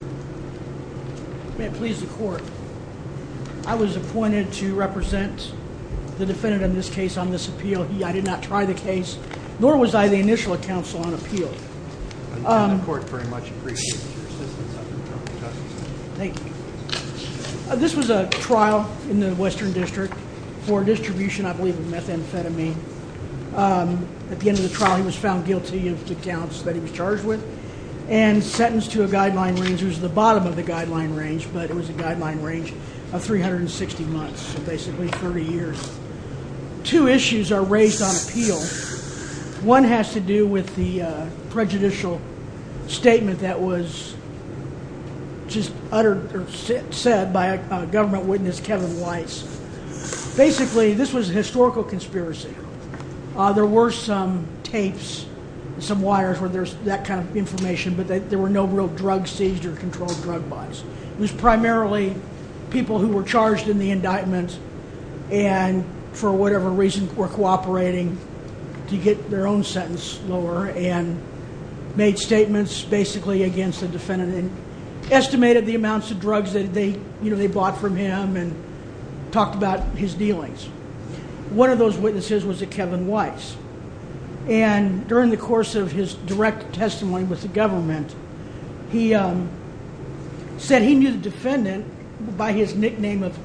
May it please the court, I was appointed to represent the defendant in this case on this appeal. I did not try the case, nor was I the initial counsel on appeal. The court very much appreciates your assistance. Thank you. This was a trial in the Western District for distribution, I believe, of methamphetamine. At the end of the trial, he was found guilty of the counts that he was charged with and sentenced to a guideline range. It was the bottom of the guideline range, but it was a guideline range of 360 months, so basically 30 years. Two issues are raised on appeal. One has to do with the prejudicial statement that was just uttered or said by a government witness, Kevin Weiss. Basically, this was a historical conspiracy. There were some tapes, some wires where there's that kind of information, but there were no real drug seized or controlled drug buys. It was primarily people who were charged in the indictment and for whatever reason were cooperating to get their own sentence lower and made statements basically against the defendant and estimated the amounts of drugs that they bought from him and talked about his dealings. One of those witnesses was a Kevin Weiss, and during the course of his direct testimony with the government, he said he knew the defendant by his nickname of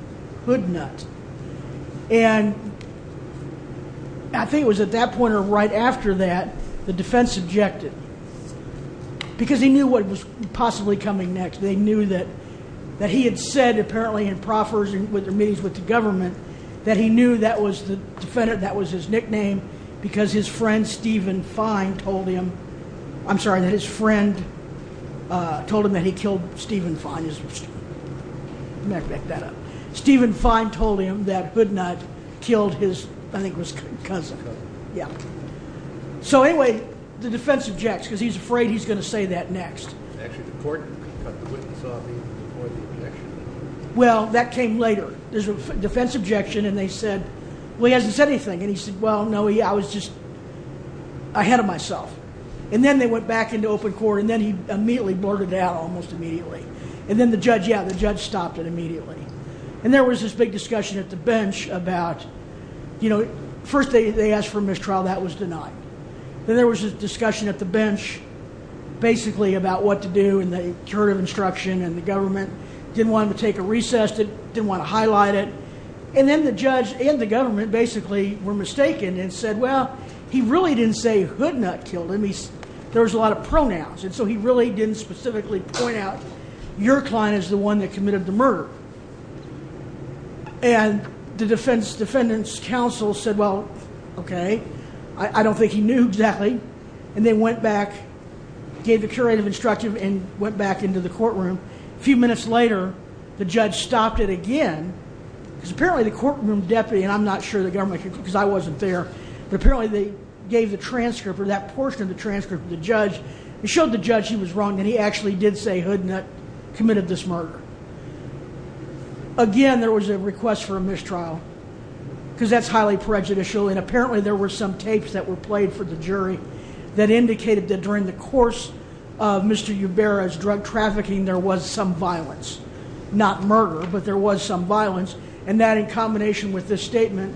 Hoodnut, and I think it was at that point or right after that, the defense objected because he knew what was possibly coming next. They knew that he had said apparently in proffers and with the meetings with the government that he knew that was the defendant, that was his nickname because his friend Stephen Fine told him that he killed Stephen Fine. Let me back that up. Stephen Fine told him that Hoodnut killed his, I think it was cousin. Yeah. So anyway, the defense objects because he's afraid he's going to say that next. Actually, the court cut the witness off before the objection. Well, that came later. There's a defense objection, and they said, well, he hasn't said anything, and he said, well, no, I was just ahead of myself, and then they went back into open court, and then he immediately blurted it out almost immediately, and then the judge, yeah, the judge stopped it immediately, and there was this big discussion at the bench about, you know, first they asked for mistrial. That was denied. Then there was a discussion at the bench basically about what to do and the curative instruction, and the government didn't want him to take a recess, didn't want to highlight it, and then the judge and the government basically were mistaken and said, well, he really didn't say Hoodnut killed him. There was a lot of pronouns, and so he really didn't specifically point out your client as the one that committed the murder, and the defendant's counsel said, well, okay, I don't think he knew exactly, and they went back, gave the curative instruction, and went back into the courtroom. A few minutes later, the judge stopped it again because apparently the courtroom deputy, and I'm not sure the government could because I wasn't there, but apparently they gave the transcript or that portion of the transcript to the judge. He showed the judge he was wrong, and he actually did say Hoodnut committed this murder. Again, there was a request for a mistrial because that's highly prejudicial, and apparently there were some tapes that were played for the jury that indicated that during the course of Mr. Ubarra's drug trafficking there was some violence, not murder, but there was some violence, and that in combination with this statement,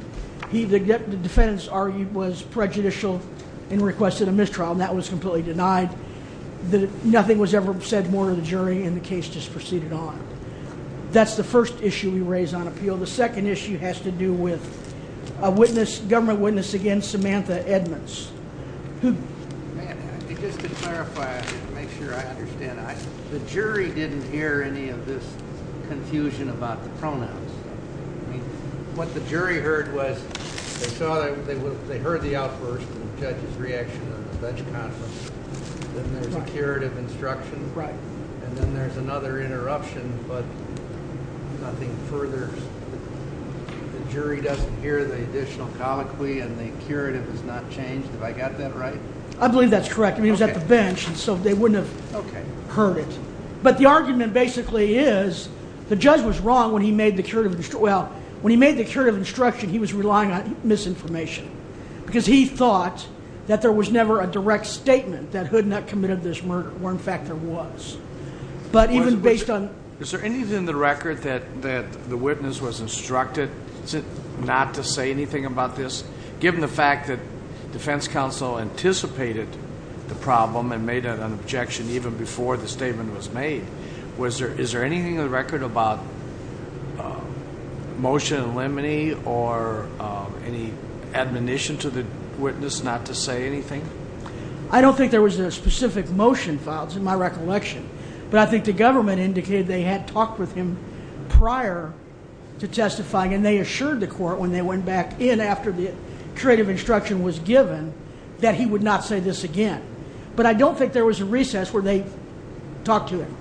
the defendant's argument was prejudicial and requested a mistrial, and that was completely denied. Nothing was ever said more to the jury, and the case just proceeded on. That's the first issue we raise on appeal. The second issue has to do with a government witness against Samantha Edmonds. Just to clarify and make sure I understand, the jury didn't hear any of this confusion about the pronouns. What the jury heard was they heard the outburst and the judge's reaction on the bench conference. Then there's a curative instruction, and then there's another interruption, but nothing further. The jury doesn't hear the additional colloquy, and the curative has not changed. Have I got that right? I believe that's correct. He was at the bench, and so they wouldn't have heard it. But the argument basically is the judge was wrong when he made the curative instruction. Well, when he made the curative instruction, he was relying on misinformation because he thought that there was never a direct statement that Hood not committed this murder, where, in fact, there was. But even based on— Is there anything in the record that the witness was instructed not to say anything about this, given the fact that defense counsel anticipated the problem and made an objection even before the statement was made? Is there anything in the record about motion in limine or any admonition to the witness not to say anything? I don't think there was a specific motion filed. It's my recollection. But I think the government indicated they had talked with him prior to testifying, and they assured the court when they went back in after the curative instruction was given that he would not say this again. But I don't think there was a recess where they talked to him.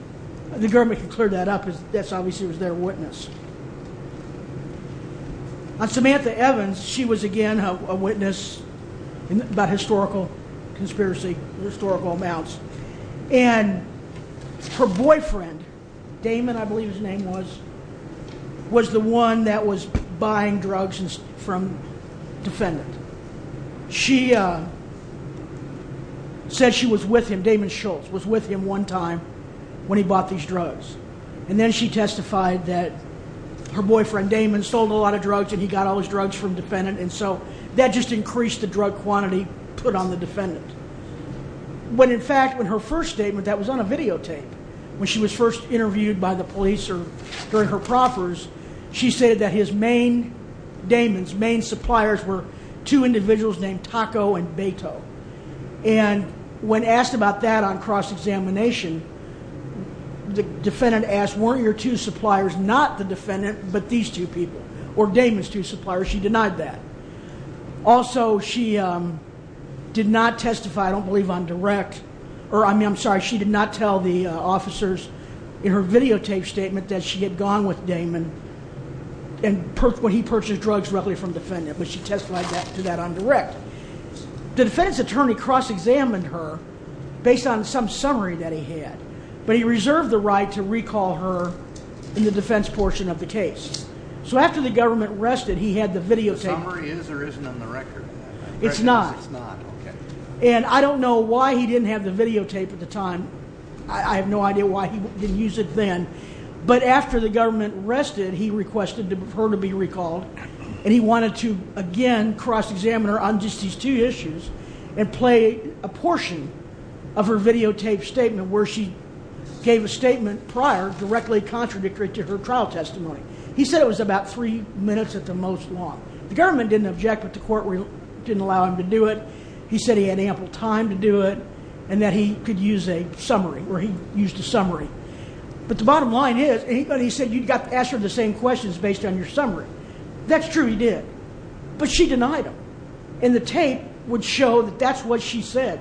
The government can clear that up. That obviously was their witness. On Samantha Evans, she was, again, a witness about historical conspiracy, historical amounts. And her boyfriend—Damon, I believe his name was— was the one that was buying drugs from defendant. She said she was with him. Damon Schultz was with him one time when he bought these drugs. And then she testified that her boyfriend, Damon, sold a lot of drugs and he got all his drugs from defendant. And so that just increased the drug quantity put on the defendant. When, in fact, in her first statement, that was on a videotape, when she was first interviewed by the police or during her proffers, she said that his main—Damon's main suppliers were two individuals named Taco and Beto. And when asked about that on cross-examination, the defendant asked, weren't your two suppliers not the defendant but these two people, or Damon's two suppliers? She denied that. Also, she did not testify, I don't believe, on direct— or, I mean, I'm sorry, she did not tell the officers in her videotape statement that she had gone with Damon when he purchased drugs roughly from defendant, but she testified to that on direct. The defendant's attorney cross-examined her based on some summary that he had, but he reserved the right to recall her in the defense portion of the case. So after the government arrested, he had the videotape— The summary is or isn't on the record? It's not. And I don't know why he didn't have the videotape at the time. I have no idea why he didn't use it then. But after the government arrested, he requested her to be recalled, and he wanted to, again, cross-examine her on just these two issues and play a portion of her videotape statement where she gave a statement prior directly contradictory to her trial testimony. He said it was about three minutes at the most long. The government didn't object, but the court didn't allow him to do it. He said he had ample time to do it and that he could use a summary, or he used a summary. But the bottom line is, he said you've got to ask her the same questions based on your summary. That's true he did, but she denied him. And the tape would show that that's what she said,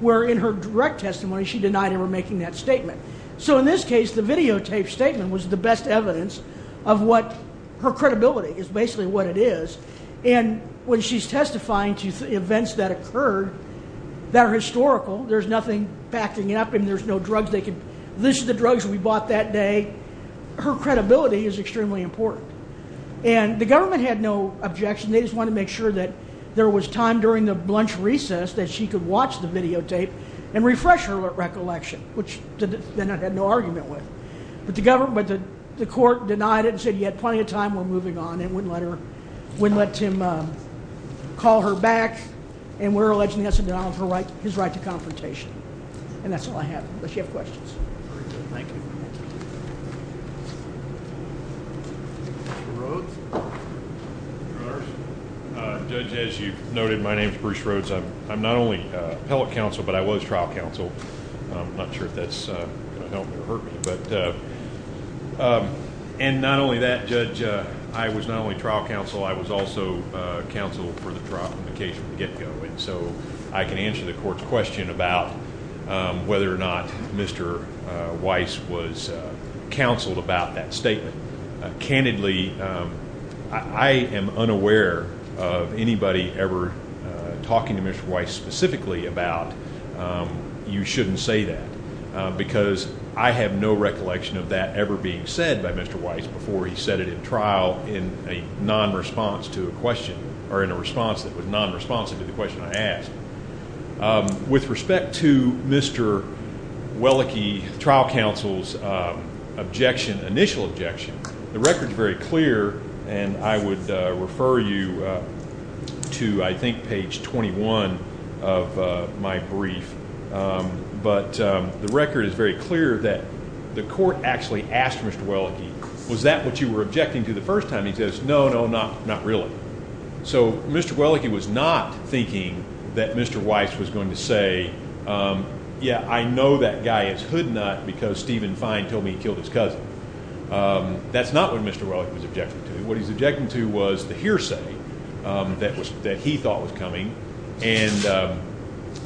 where in her direct testimony she denied him her making that statement. So in this case, the videotape statement was the best evidence of what— her credibility is basically what it is. And when she's testifying to events that occurred that are historical, there's nothing backing it up, and there's no drugs they could— this is the drugs we bought that day. Her credibility is extremely important. And the government had no objection. They just wanted to make sure that there was time during the lunch recess that she could watch the videotape and refresh her recollection, which they had no argument with. But the court denied it and said you had plenty of time. We're moving on and wouldn't let him call her back. And we're alleging he has a denial of his right to confrontation. And that's all I have unless you have questions. Very good. Thank you. Judge, as you noted, my name is Bruce Rhodes. I'm not only appellate counsel, but I was trial counsel. I'm not sure if that's going to help me or hurt me. And not only that, Judge, I was not only trial counsel, I was also counsel for the trial in the case from the get-go. And so I can answer the court's question about whether or not Mr. Weiss was counseled about that statement. Candidly, I am unaware of anybody ever talking to Mr. Weiss specifically about You shouldn't say that because I have no recollection of that ever being said by Mr. Weiss before he said it in trial in a non-response to a question or in a response that was non-responsive to the question I asked. With respect to Mr. Wellicke, trial counsel's objection, initial objection, the record's very clear, and I would refer you to, I think, page 21 of my brief. But the record is very clear that the court actually asked Mr. Wellicke, was that what you were objecting to the first time? He says, no, no, not really. So Mr. Wellicke was not thinking that Mr. Weiss was going to say, yeah, I know that guy is hoodnut because Stephen Fine told me he killed his cousin. That's not what Mr. Wellicke was objecting to. What he was objecting to was the hearsay that he thought was coming. And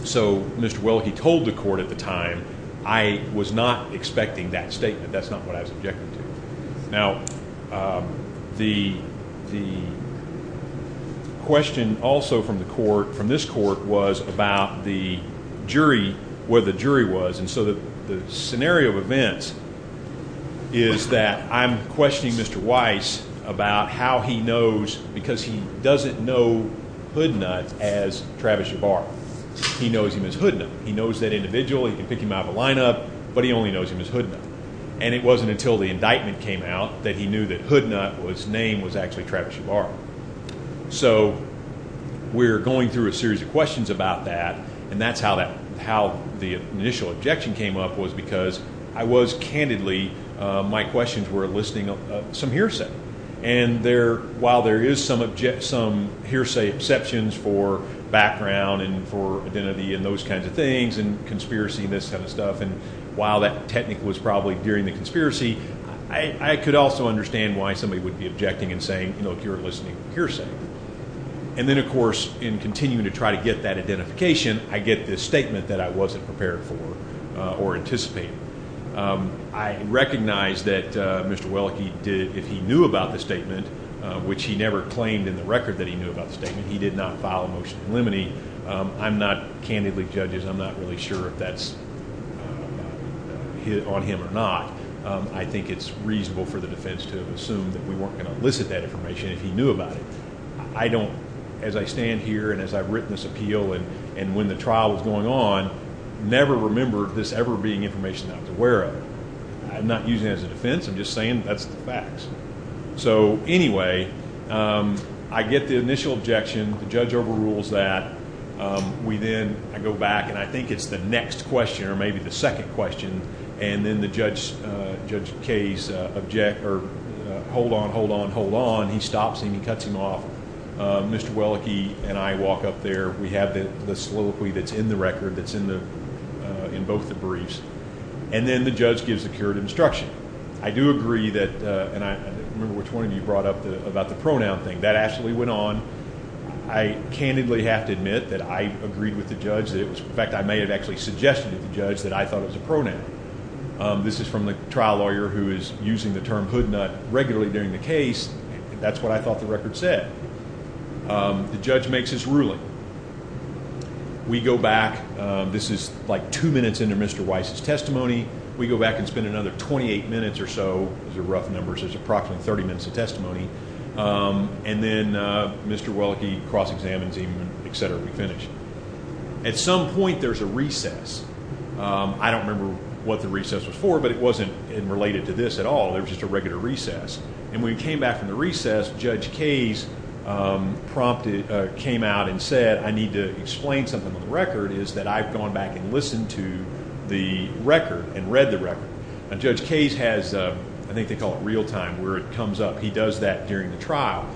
so Mr. Wellicke told the court at the time, I was not expecting that statement. That's not what I was objecting to. Now, the question also from the court, from this court, was about the jury, where the jury was. And so the scenario of events is that I'm questioning Mr. Weiss about how he knows, because he doesn't know hoodnuts as Travis Jabbar. He knows him as hoodnut. He knows that individual. He can pick him out of a lineup, but he only knows him as hoodnut. And it wasn't until the indictment came out that he knew that hoodnut's name was actually Travis Jabbar. So we're going through a series of questions about that, and that's how the initial objection came up was because I was candidly, my questions were listening to some hearsay. And while there is some hearsay exceptions for background and for identity and those kinds of things and conspiracy and this kind of stuff, and while that technique was probably during the conspiracy, I could also understand why somebody would be objecting and saying, look, you're listening to hearsay. And then, of course, in continuing to try to get that identification, I get this statement that I wasn't prepared for or anticipated. I recognize that Mr. Wellicke did, if he knew about the statement, which he never claimed in the record that he knew about the statement, he did not file a motion to eliminate. I'm not candidly, judges, I'm not really sure if that's on him or not. I think it's reasonable for the defense to have assumed that we weren't going to elicit that information if he knew about it. I don't, as I stand here and as I've written this appeal and when the trial was going on, never remembered this ever being information that I was aware of. I'm not using it as a defense. I'm just saying that's the facts. So, anyway, I get the initial objection. The judge overrules that. We then go back, and I think it's the next question or maybe the second question, and then the judge, Judge Case, object or hold on, hold on, hold on. He stops him. He cuts him off. Mr. Wellicke and I walk up there. We have the soliloquy that's in the record that's in both the briefs, and then the judge gives a curative instruction. I do agree that, and I don't remember which one of you brought up about the pronoun thing. That actually went on. I candidly have to admit that I agreed with the judge. In fact, I may have actually suggested to the judge that I thought it was a pronoun. This is from the trial lawyer who is using the term hoodnut regularly during the case, and that's what I thought the record said. The judge makes his ruling. We go back. This is like two minutes into Mr. Weiss's testimony. We go back and spend another 28 minutes or so. These are rough numbers. There's approximately 30 minutes of testimony. And then Mr. Wellicke cross-examines him, et cetera. We finish. At some point, there's a recess. I don't remember what the recess was for, but it wasn't related to this at all. It was just a regular recess. And when we came back from the recess, Judge Case came out and said, I need to explain something on the record, is that I've gone back and listened to the record and read the record. Judge Case has, I think they call it real time, where it comes up. He does that during the trial.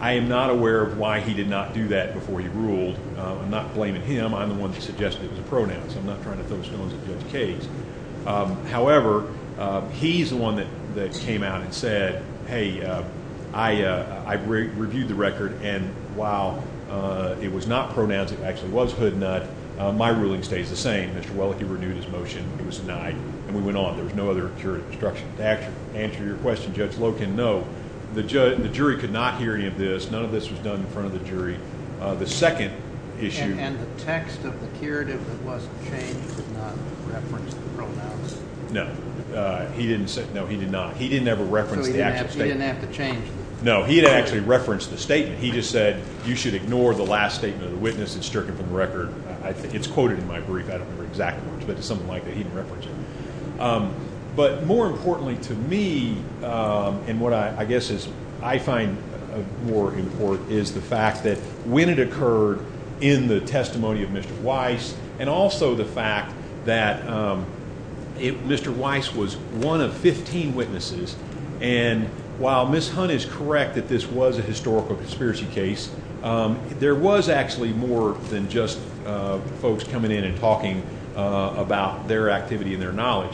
I am not aware of why he did not do that before he ruled. I'm not blaming him. I'm the one that suggested it was a pronoun, so I'm not trying to throw stones at Judge Case. However, he's the one that came out and said, hey, I've reviewed the record, and while it was not pronouns, it actually was hood and nut, my ruling stays the same. Mr. Wellicke renewed his motion. It was denied. And we went on. There was no other accurate instruction. To answer your question, Judge Loken, no. The jury could not hear any of this. None of this was done in front of the jury. The second issue. And the text of the curative that wasn't changed did not reference the pronouns? No. He didn't ever reference the actual statement. So he didn't have to change them? No, he didn't actually reference the statement. He just said, you should ignore the last statement of the witness. It's stricken from the record. It's quoted in my brief. I don't remember the exact words, but it's something like that. He didn't reference it. But more importantly to me, and what I guess is I find more important, is the fact that when it occurred in the testimony of Mr. Weiss, and also the fact that Mr. Weiss was one of 15 witnesses, and while Ms. Hunt is correct that this was a historical conspiracy case, there was actually more than just folks coming in and talking about their activity and their knowledge.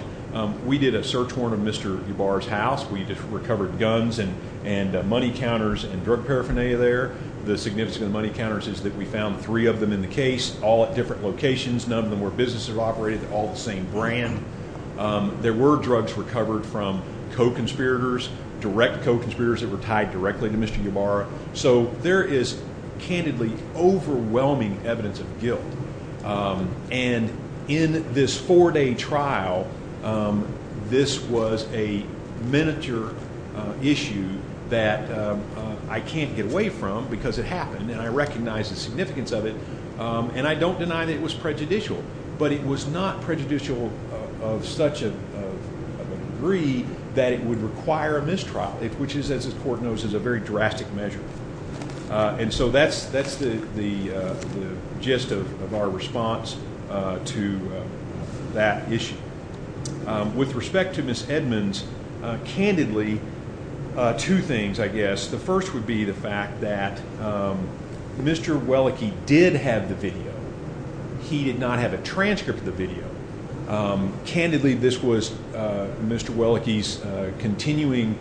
We did a search warrant of Mr. Ybarra's house. We recovered guns and money counters and drug paraphernalia there. The significance of the money counters is that we found three of them in the case, all at different locations. None of them were businesses that operated, all the same brand. There were drugs recovered from co-conspirators, direct co-conspirators that were tied directly to Mr. Ybarra. So there is candidly overwhelming evidence of guilt. And in this four-day trial, this was a miniature issue that I can't get away from because it happened, and I recognize the significance of it, and I don't deny that it was prejudicial. But it was not prejudicial of such a degree that it would require a mistrial, which is, as this court knows, is a very drastic measure. And so that's the gist of our response to that issue. With respect to Ms. Edmonds, candidly, two things, I guess. The first would be the fact that Mr. Welleke did have the video. He did not have a transcript of the video. Candidly, this was Mr. Welleke's continuing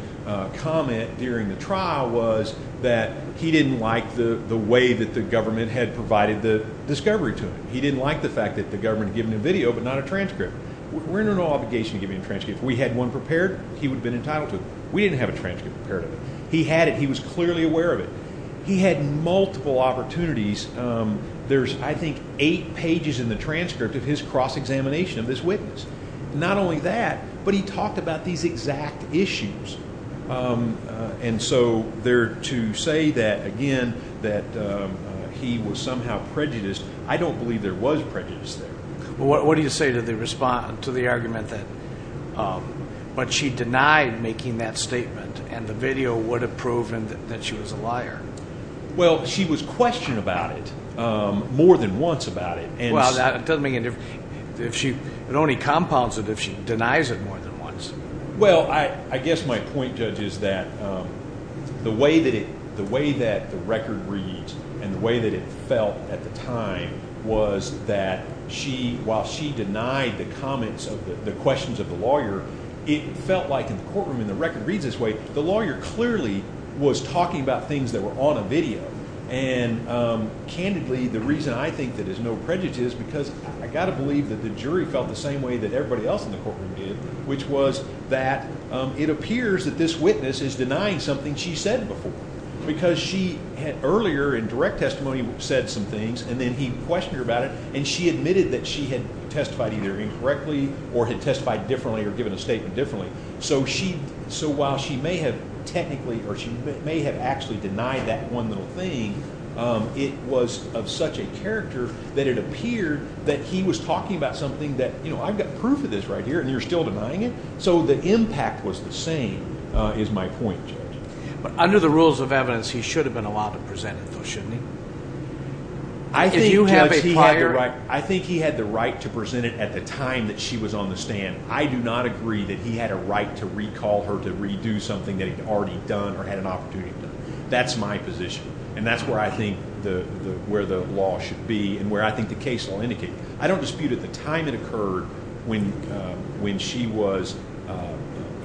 comment during the trial was that he didn't like the way that the government had provided the discovery to him. He didn't like the fact that the government had given him video but not a transcript. We're under no obligation to give him a transcript. If we had one prepared, he would have been entitled to it. We didn't have a transcript prepared of it. He had it. He was clearly aware of it. He had multiple opportunities. There's, I think, eight pages in the transcript of his cross-examination of this witness. Not only that, but he talked about these exact issues. And so there to say that, again, that he was somehow prejudiced, I don't believe there was prejudice there. What do you say to the argument that she denied making that statement Well, she was questioned about it more than once about it. Well, that doesn't make any difference. It only compounds it if she denies it more than once. Well, I guess my point, Judge, is that the way that the record reads and the way that it felt at the time was that she, while she denied the comments of the questions of the lawyer, it felt like in the courtroom, and the record reads this way, the lawyer clearly was talking about things that were on a video. And, candidly, the reason I think that there's no prejudice is because I've got to believe that the jury felt the same way that everybody else in the courtroom did, which was that it appears that this witness is denying something she said before. Because she had earlier in direct testimony said some things, and then he questioned her about it, and she admitted that she had testified either incorrectly or had testified differently or given a statement differently. So while she may have technically or she may have actually denied that one little thing, it was of such a character that it appeared that he was talking about something that, you know, I've got proof of this right here, and you're still denying it. So the impact was the same, is my point, Judge. But under the rules of evidence, he should have been allowed to present it, though, shouldn't he? I think, Judge, he had the right to present it at the time that she was on the stand. I do not agree that he had a right to recall her to redo something that he had already done or had an opportunity to do. That's my position, and that's where I think the law should be and where I think the case law indicates. I don't dispute at the time it occurred when she was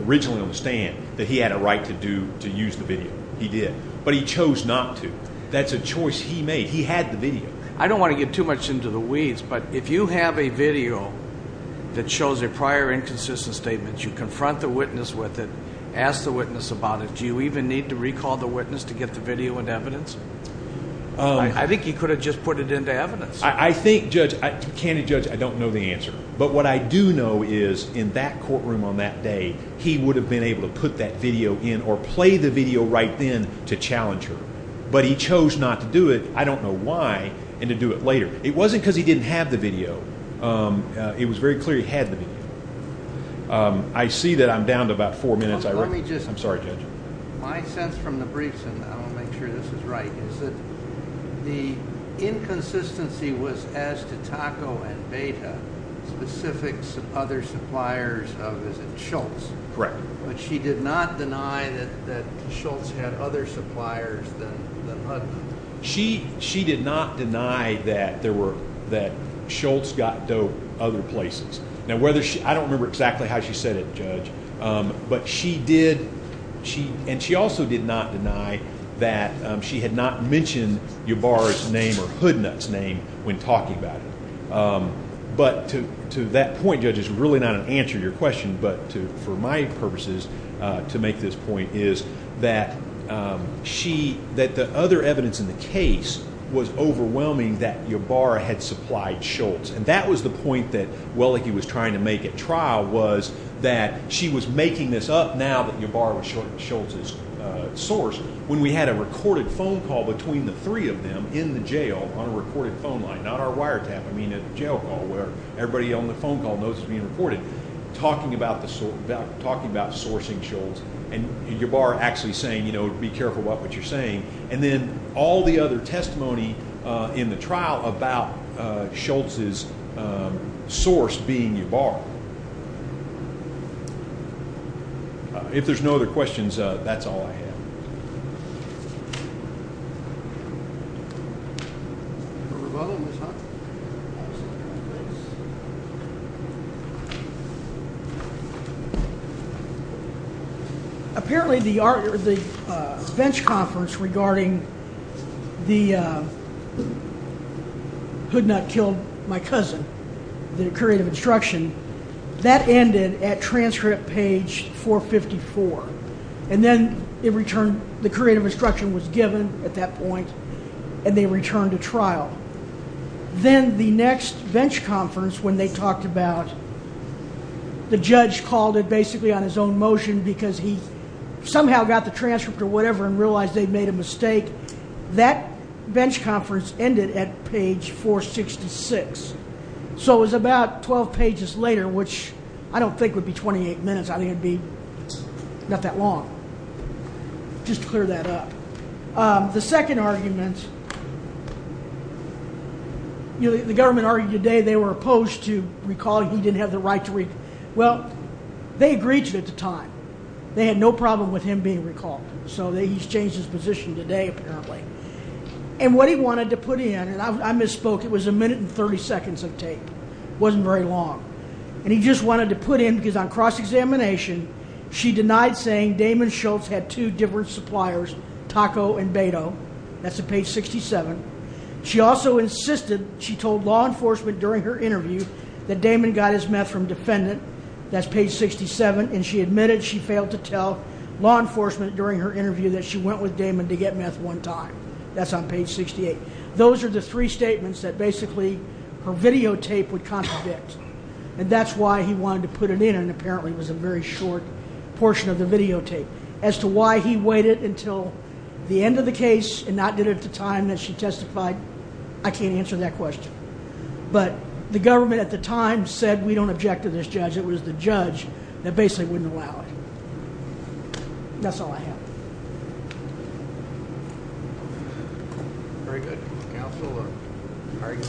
originally on the stand that he had a right to use the video. He did. But he chose not to. That's a choice he made. He had the video. I don't want to get too much into the weeds, but if you have a video that shows a prior inconsistent statement, you confront the witness with it, ask the witness about it, do you even need to recall the witness to get the video into evidence? I think he could have just put it into evidence. I think, Judge, candid Judge, I don't know the answer. But what I do know is in that courtroom on that day, he would have been able to put that video in or play the video right then to challenge her. But he chose not to do it. I don't know why, and to do it later. It wasn't because he didn't have the video. It was very clear he had the video. I see that I'm down to about four minutes. Let me just – I'm sorry, Judge. My sense from the briefs, and I want to make sure this is right, is that the inconsistency was as to Taco and Beta, specifics of other suppliers of, is it, Schultz. Correct. But she did not deny that Schultz had other suppliers than Hudson. She did not deny that Schultz got dope other places. Now, I don't remember exactly how she said it, Judge, but she did, and she also did not deny that she had not mentioned Ybarra's name or Hoodnut's name when talking about it. But to that point, Judge, is really not an answer to your question, but for my purposes to make this point is that the other evidence in the case was overwhelming that Ybarra had supplied Schultz, and that was the point that Welleke was trying to make at trial was that she was making this up now that Ybarra was Schultz's source when we had a recorded phone call between the three of them in the jail on a recorded phone line, not our wire tap, I mean a jail call where everybody on the phone call knows it's being recorded, talking about sourcing Schultz and Ybarra actually saying, you know, be careful about what you're saying, and then all the other testimony in the trial about Schultz's source being Ybarra. If there's no other questions, that's all I have. Thank you. Apparently the bench conference regarding the Hoodnut killed my cousin, the creative instruction, that ended at transcript page 454, and then the creative instruction was given at that point, and they returned to trial. Then the next bench conference when they talked about the judge called it basically on his own motion because he somehow got the transcript or whatever and realized they'd made a mistake, that bench conference ended at page 466. So it was about 12 pages later, which I don't think would be 28 minutes. I think it would be not that long. Just to clear that up. The second argument, the government argued today they were opposed to recalling. He didn't have the right to recall. Well, they agreed to it at the time. They had no problem with him being recalled, so he's changed his position today apparently. And what he wanted to put in, and I misspoke, it was a minute and 30 seconds of tape. It wasn't very long. And he just wanted to put in, because on cross-examination, she denied saying Damon Schultz had two different suppliers, Taco and Beto. That's at page 67. She also insisted she told law enforcement during her interview that Damon got his meth from Defendant. That's page 67. And she admitted she failed to tell law enforcement during her interview that she went with Damon to get meth one time. That's on page 68. Those are the three statements that basically her videotape would contradict. And that's why he wanted to put it in, and apparently it was a very short portion of the videotape. As to why he waited until the end of the case and not did it at the time that she testified, I can't answer that question. But the government at the time said we don't object to this judge. It was the judge that basically wouldn't allow it. That's all I have. Thank you. Very good.